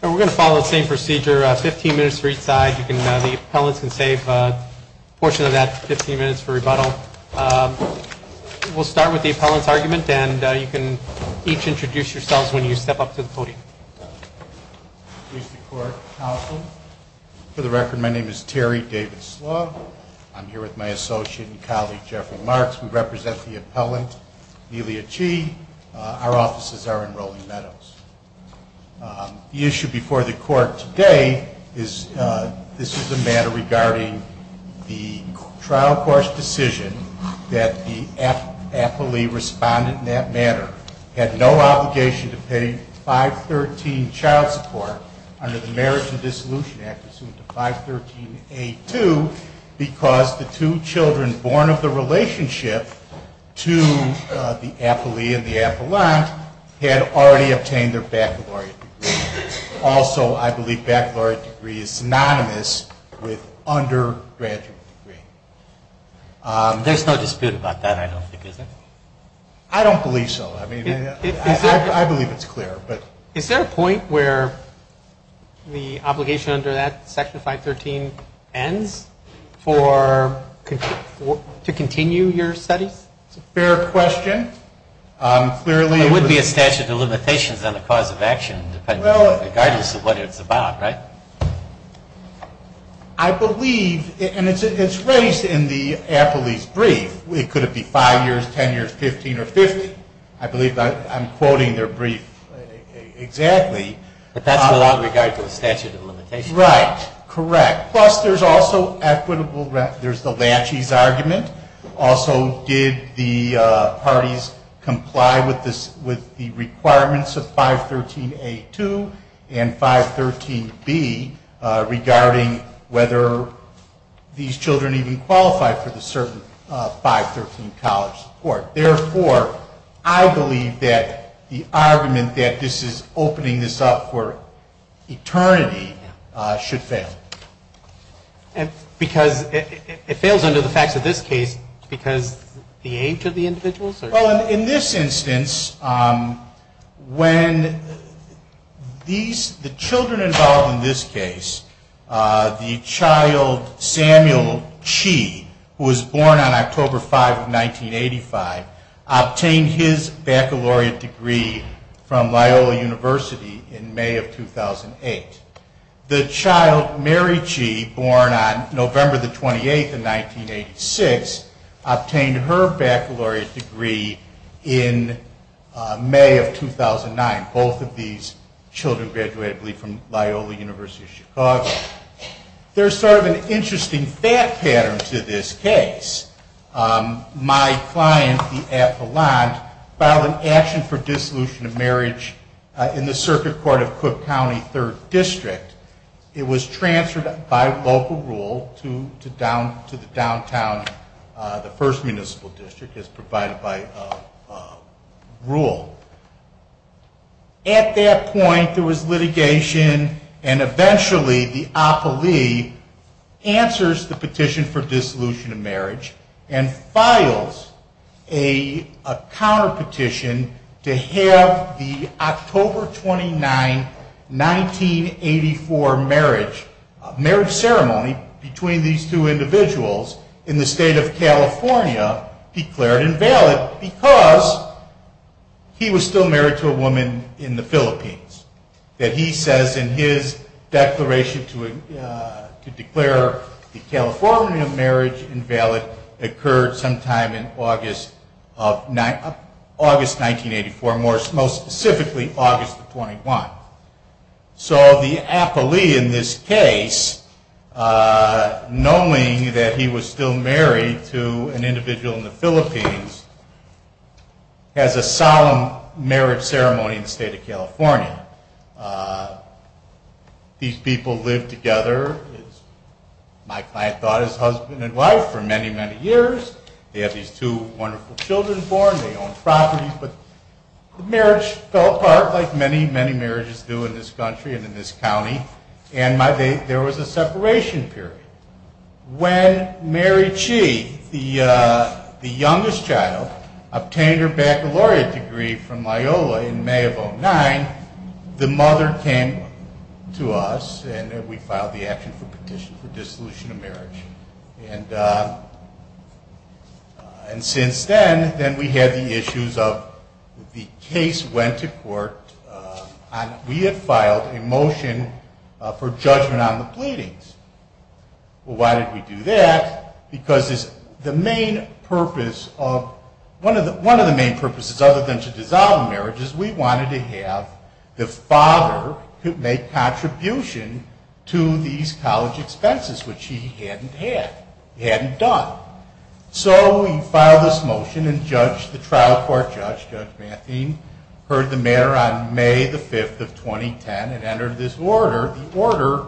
We're going to follow the same procedure, 15 minutes for each side. The appellants can save a portion of that 15 minutes for rebuttal. We'll start with the appellant's argument and you can each introduce yourselves when you step up to the podium. Mr. Court Counsel. For the record, my name is Terry David Slough. I'm here with my associate and colleague Jeffrey Marks. We represent the appellant, Amelia Chee. Our offices are in Rolling Meadows. The issue before the court today is this is a matter regarding the trial court's decision that the appellee responded in that manner, had no obligation to pay 513 child support under the Marriage and Dissolution Act, assumed to 513A2, because the two children born of the relationship to the appellee and the appellant had already obtained child support. The appellant has already obtained their baccalaureate degree. Also, I believe baccalaureate degree is synonymous with undergraduate degree. There's no dispute about that, I don't think, is there? I don't believe so. I believe it's clear. Is there a point where the obligation under that, Section 513, ends to continue your studies? It's a fair question. There would be a statute of limitations on the cause of action, regardless of what it's about, right? I believe, and it's raised in the appellee's brief. Could it be 5 years, 10 years, 15, or 50? I believe I'm quoting their brief exactly. But that's without regard to the statute of limitations. He's right. Correct. Plus, there's also the Lachey's argument. Also, did the parties comply with the requirements of 513A2 and 513B, regarding whether these children even qualified for the certain 513 college support. Therefore, I believe that the argument that this is opening this up for eternity should fail. Because it fails under the facts of this case because the age of the individuals? Well, in this instance, when the children involved in this case, the child Samuel Chee, who was born on October 5, 1985, obtained his baccalaureate degree from Loyola University in May of 2008. The child Mary Chee, born on November 28, 1986, obtained her baccalaureate degree in May of 2009. Both of these children graduated, I believe, from Loyola University of Chicago. There's sort of an interesting fact pattern to this case. My client, the appellant, filed an action for dissolution of marriage in the Circuit Court of Cook County, 3rd District. It was transferred by local rule to the downtown, the 1st Municipal District, as provided by rule. At that point, there was litigation, and eventually the appellee answers the petition for dissolution of marriage and files a counterpetition to have the October 29, 1984 marriage ceremony between these two individuals in the state of California declared invalid because he was still married to a woman in the Philippines. That he says in his declaration to declare the California marriage invalid occurred sometime in August 1984, more specifically August 21. So the appellee in this case, knowing that he was still married to an individual in the Philippines, has a solemn marriage ceremony in the state of California. These people live together, as my client thought, as husband and wife for many, many years. They have these two wonderful children born. They own properties. The marriage fell apart, like many, many marriages do in this country and in this county, and there was a separation period. When Mary Chee, the youngest child, obtained her baccalaureate degree from Loyola in May of 2009, the mother came to us and we filed the action for petition for dissolution of marriage. And since then, we had the issues of the case went to court. We had filed a motion for judgment on the pleadings. Why did we do that? Because one of the main purposes, other than to dissolve the marriage, we wanted to have the father make contribution to these college expenses, which he hadn't had. He hadn't done. So we filed this motion and the trial court judge, Judge Matheen, heard the matter on May the 5th of 2010 and entered this order, the order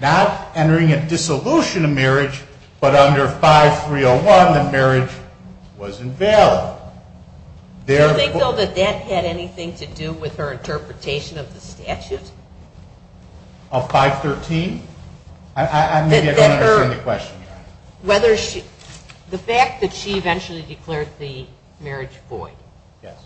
not entering a dissolution of marriage, but under 5301 the marriage was invalid. Do you think, though, that that had anything to do with her interpretation of the statute? Of 513? I don't understand the question. The fact that she eventually declared the marriage void. Yes.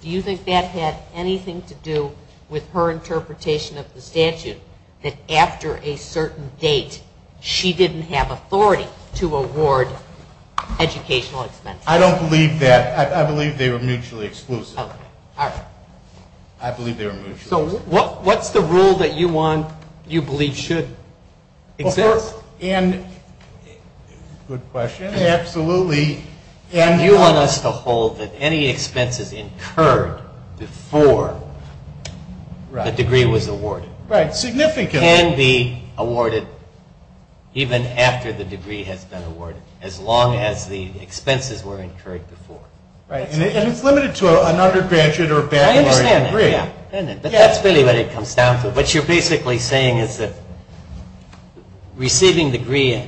Do you think that had anything to do with her interpretation of the statute that after a certain date she didn't have authority to award educational expenses? I don't believe that. I believe they were mutually exclusive. All right. I believe they were mutually exclusive. So what's the rule that you believe should exist? Good question. Absolutely. Do you want us to hold that any expenses incurred before the degree was awarded can be awarded even after the degree has been awarded as long as the expenses were incurred before? Right. And it's limited to an undergraduate or baccalaureate degree. I understand that, yeah. But that's really what it comes down to. What you're basically saying is that receiving a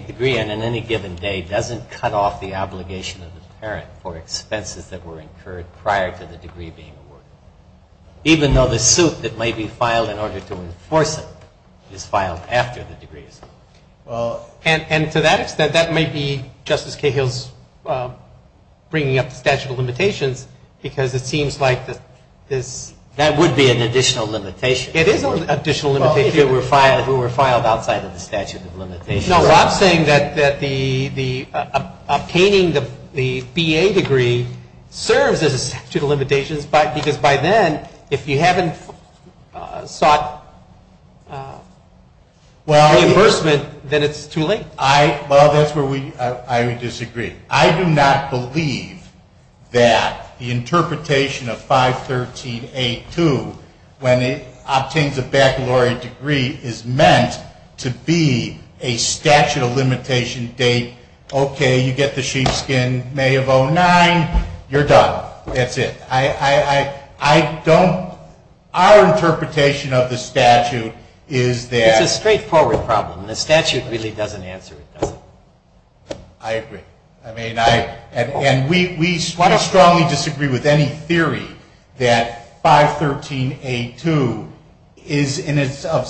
degree on any given day doesn't cut off the obligation of the parent for expenses that were incurred prior to the degree being awarded, even though the suit that may be filed in order to enforce it is filed after the degree is awarded. And to that extent, that may be Justice Cahill's bringing up the statute of limitations because it seems like this – That would be an additional limitation. It is an additional limitation. If it were filed outside of the statute of limitations. No, I'm saying that obtaining the BA degree serves as a statute of limitations because by then, if you haven't sought reimbursement, then it's too late. Well, that's where I would disagree. I do not believe that the interpretation of 513A2, when it obtains a baccalaureate degree, is meant to be a statute of limitation date. Okay, you get the sheepskin May of 09. You're done. That's it. I don't – our interpretation of the statute is that – It's a straightforward problem. The statute really doesn't answer it, does it? I agree. I mean, I – and we strongly disagree with any theory that 513A2 is in itself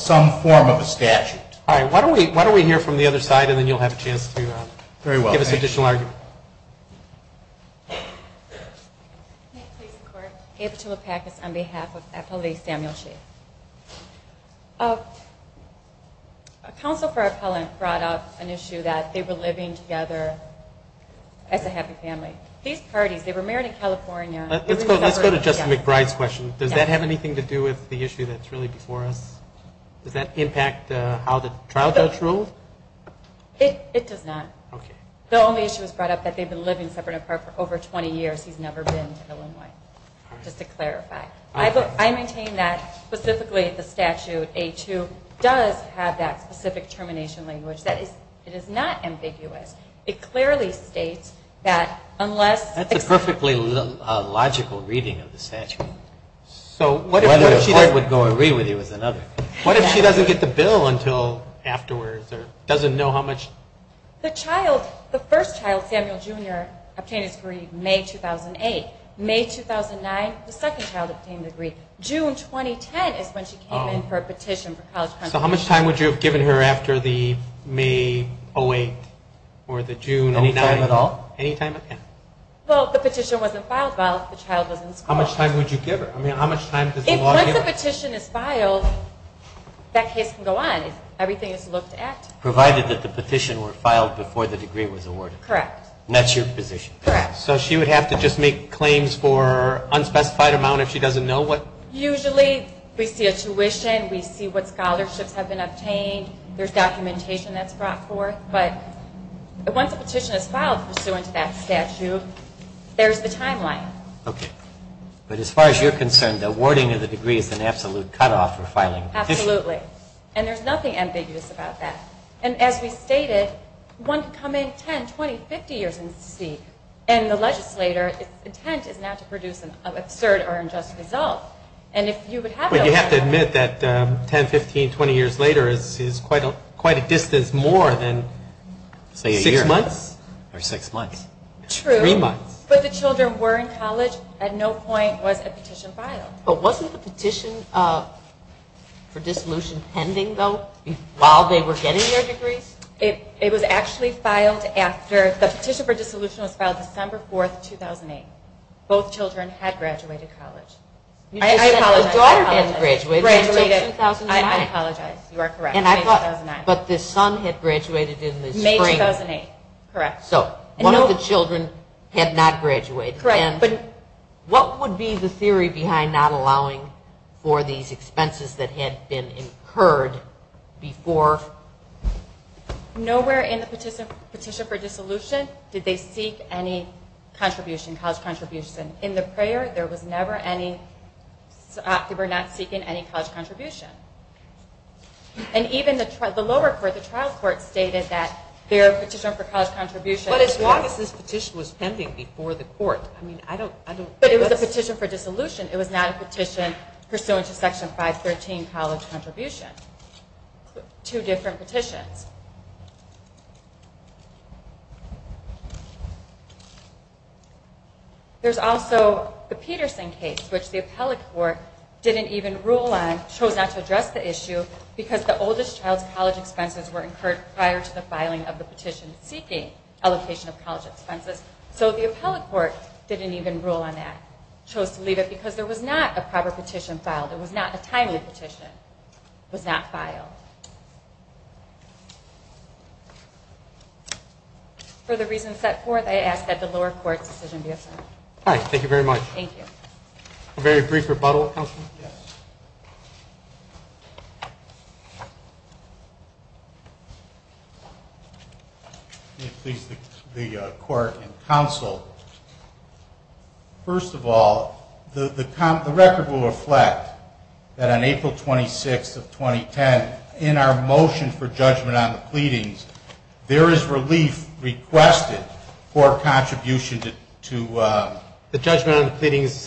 some form of a statute. All right. Why don't we hear from the other side, and then you'll have a chance to give us additional argument. Very well. May it please the Court? Ava Chilopakis on behalf of Appellee Samuel Shea. A counsel for appellant brought up an issue that they were living together as a happy family. These parties, they were married in California. Let's go to Justice McBride's question. Does that have anything to do with the issue that's really before us? Does that impact how the trial judge ruled? It does not. Okay. The only issue was brought up that they've been living separate and apart for over 20 years. He's never been to Illinois, just to clarify. I maintain that specifically the statute, A2, does have that specific termination language. That is – it is not ambiguous. It clearly states that unless – That's a perfectly logical reading of the statute. So what if she doesn't get the bill until afterwards or doesn't know how much? The child, the first child, Samuel Jr., obtained his degree May 2008. May 2009, the second child obtained a degree. June 2010 is when she came in for a petition for college compensation. So how much time would you have given her after the May 08 or the June 09? Any time at all? Any time at all, yeah. Well, the petition wasn't filed while the child was in school. How much time would you give her? I mean, how much time does the law give her? Once a petition is filed, that case can go on. Everything is looked at. Provided that the petition were filed before the degree was awarded. Correct. And that's your position. Correct. So she would have to just make claims for unspecified amount if she doesn't know what? Usually we see a tuition. We see what scholarships have been obtained. There's documentation that's brought forth. But once a petition is filed pursuant to that statute, there's the timeline. Okay. But as far as you're concerned, the awarding of the degree is an absolute cutoff for filing a petition? Absolutely. And there's nothing ambiguous about that. And as we stated, one can come in 10, 20, 50 years and see. And the legislator's intent is not to produce an absurd or unjust result. But you have to admit that 10, 15, 20 years later is quite a distance more than, say, a year. Six months. Or six months. True. Three months. But the children were in college. At no point was a petition filed. But wasn't the petition for dissolution pending, though, while they were getting their degrees? It was actually filed after the petition for dissolution was filed December 4th, 2008. Both children had graduated college. I apologize. The daughter hadn't graduated. Graduated in 2009. I apologize. You are correct. May 2009. But the son had graduated in the spring. May 2008. Correct. So one of the children had not graduated. Correct. And what would be the theory behind not allowing for these expenses that had been incurred before? Nowhere in the petition for dissolution did they seek any college contribution. In the prayer, they were not seeking any college contribution. And even the lower court, the trial court, stated that their petition for college contribution Well, it's obvious this petition was pending before the court. I mean, I don't But it was a petition for dissolution. It was not a petition pursuant to Section 513, college contribution. Two different petitions. There's also the Peterson case, which the appellate court didn't even rule on, chose not to address the issue because the oldest child's college expenses were incurred prior to the filing of the petition seeking allocation of college expenses. So the appellate court didn't even rule on that. Chose to leave it because there was not a proper petition filed. It was not a timely petition. It was not filed. For the reasons set forth, I ask that the lower court's decision be affirmed. All right. Thank you very much. Thank you. A very brief rebuttal, counsel? Yes. May it please the court and counsel, first of all, the record will reflect that on April 26th of 2010, in our motion for judgment on the pleadings, there is relief requested for contribution to The judgment on the pleadings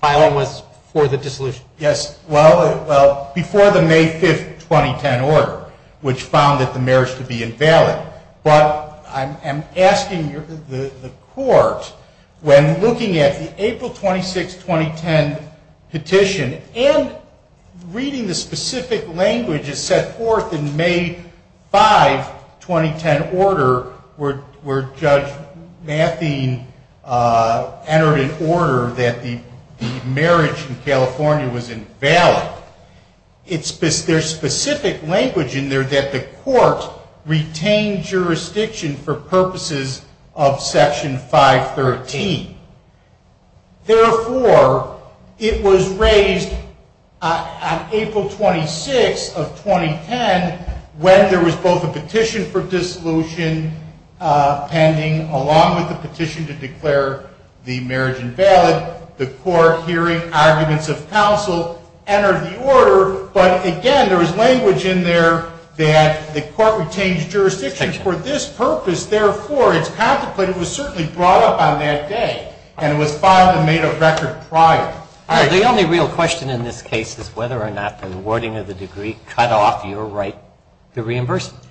filing was for the dissolution. Yes. Well, before the May 5th, 2010 order, which found that the marriage to be invalid. But I'm asking the court, when looking at the April 26th, 2010 petition, and reading the specific language that's set forth in May 5th, 2010 order, where Judge Mathien entered an order that the marriage in California was invalid, there's specific language in there that the court retained jurisdiction for purposes of Section 513. Therefore, it was raised on April 26th of 2010, when there was both a petition for dissolution pending, along with the petition to declare the marriage invalid. The court, hearing arguments of counsel, entered the order. But, again, there was language in there that the court retained jurisdiction for this purpose. Therefore, it's contemplated it was certainly brought up on that day, and it was filed and made a record prior. The only real question in this case is whether or not the awarding of the degree cut off your right to reimbursement.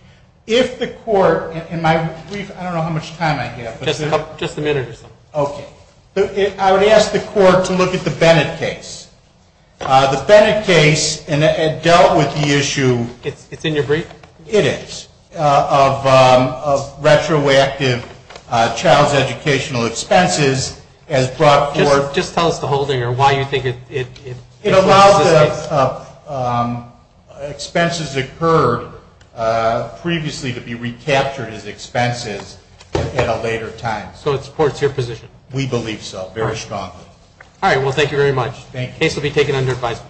If the court, in my brief, I don't know how much time I have. Just a minute. Okay. I would ask the court to look at the Bennett case. The Bennett case dealt with the issue. It's in your brief? It is. Of retroactive child's educational expenses as brought forth. Just tell us the holding or why you think it's in this case. It allows the expenses occurred previously to be recaptured as expenses at a later time. So it supports your position? We believe so very strongly. All right. Well, thank you very much. Thank you. The case will be taken under advisement.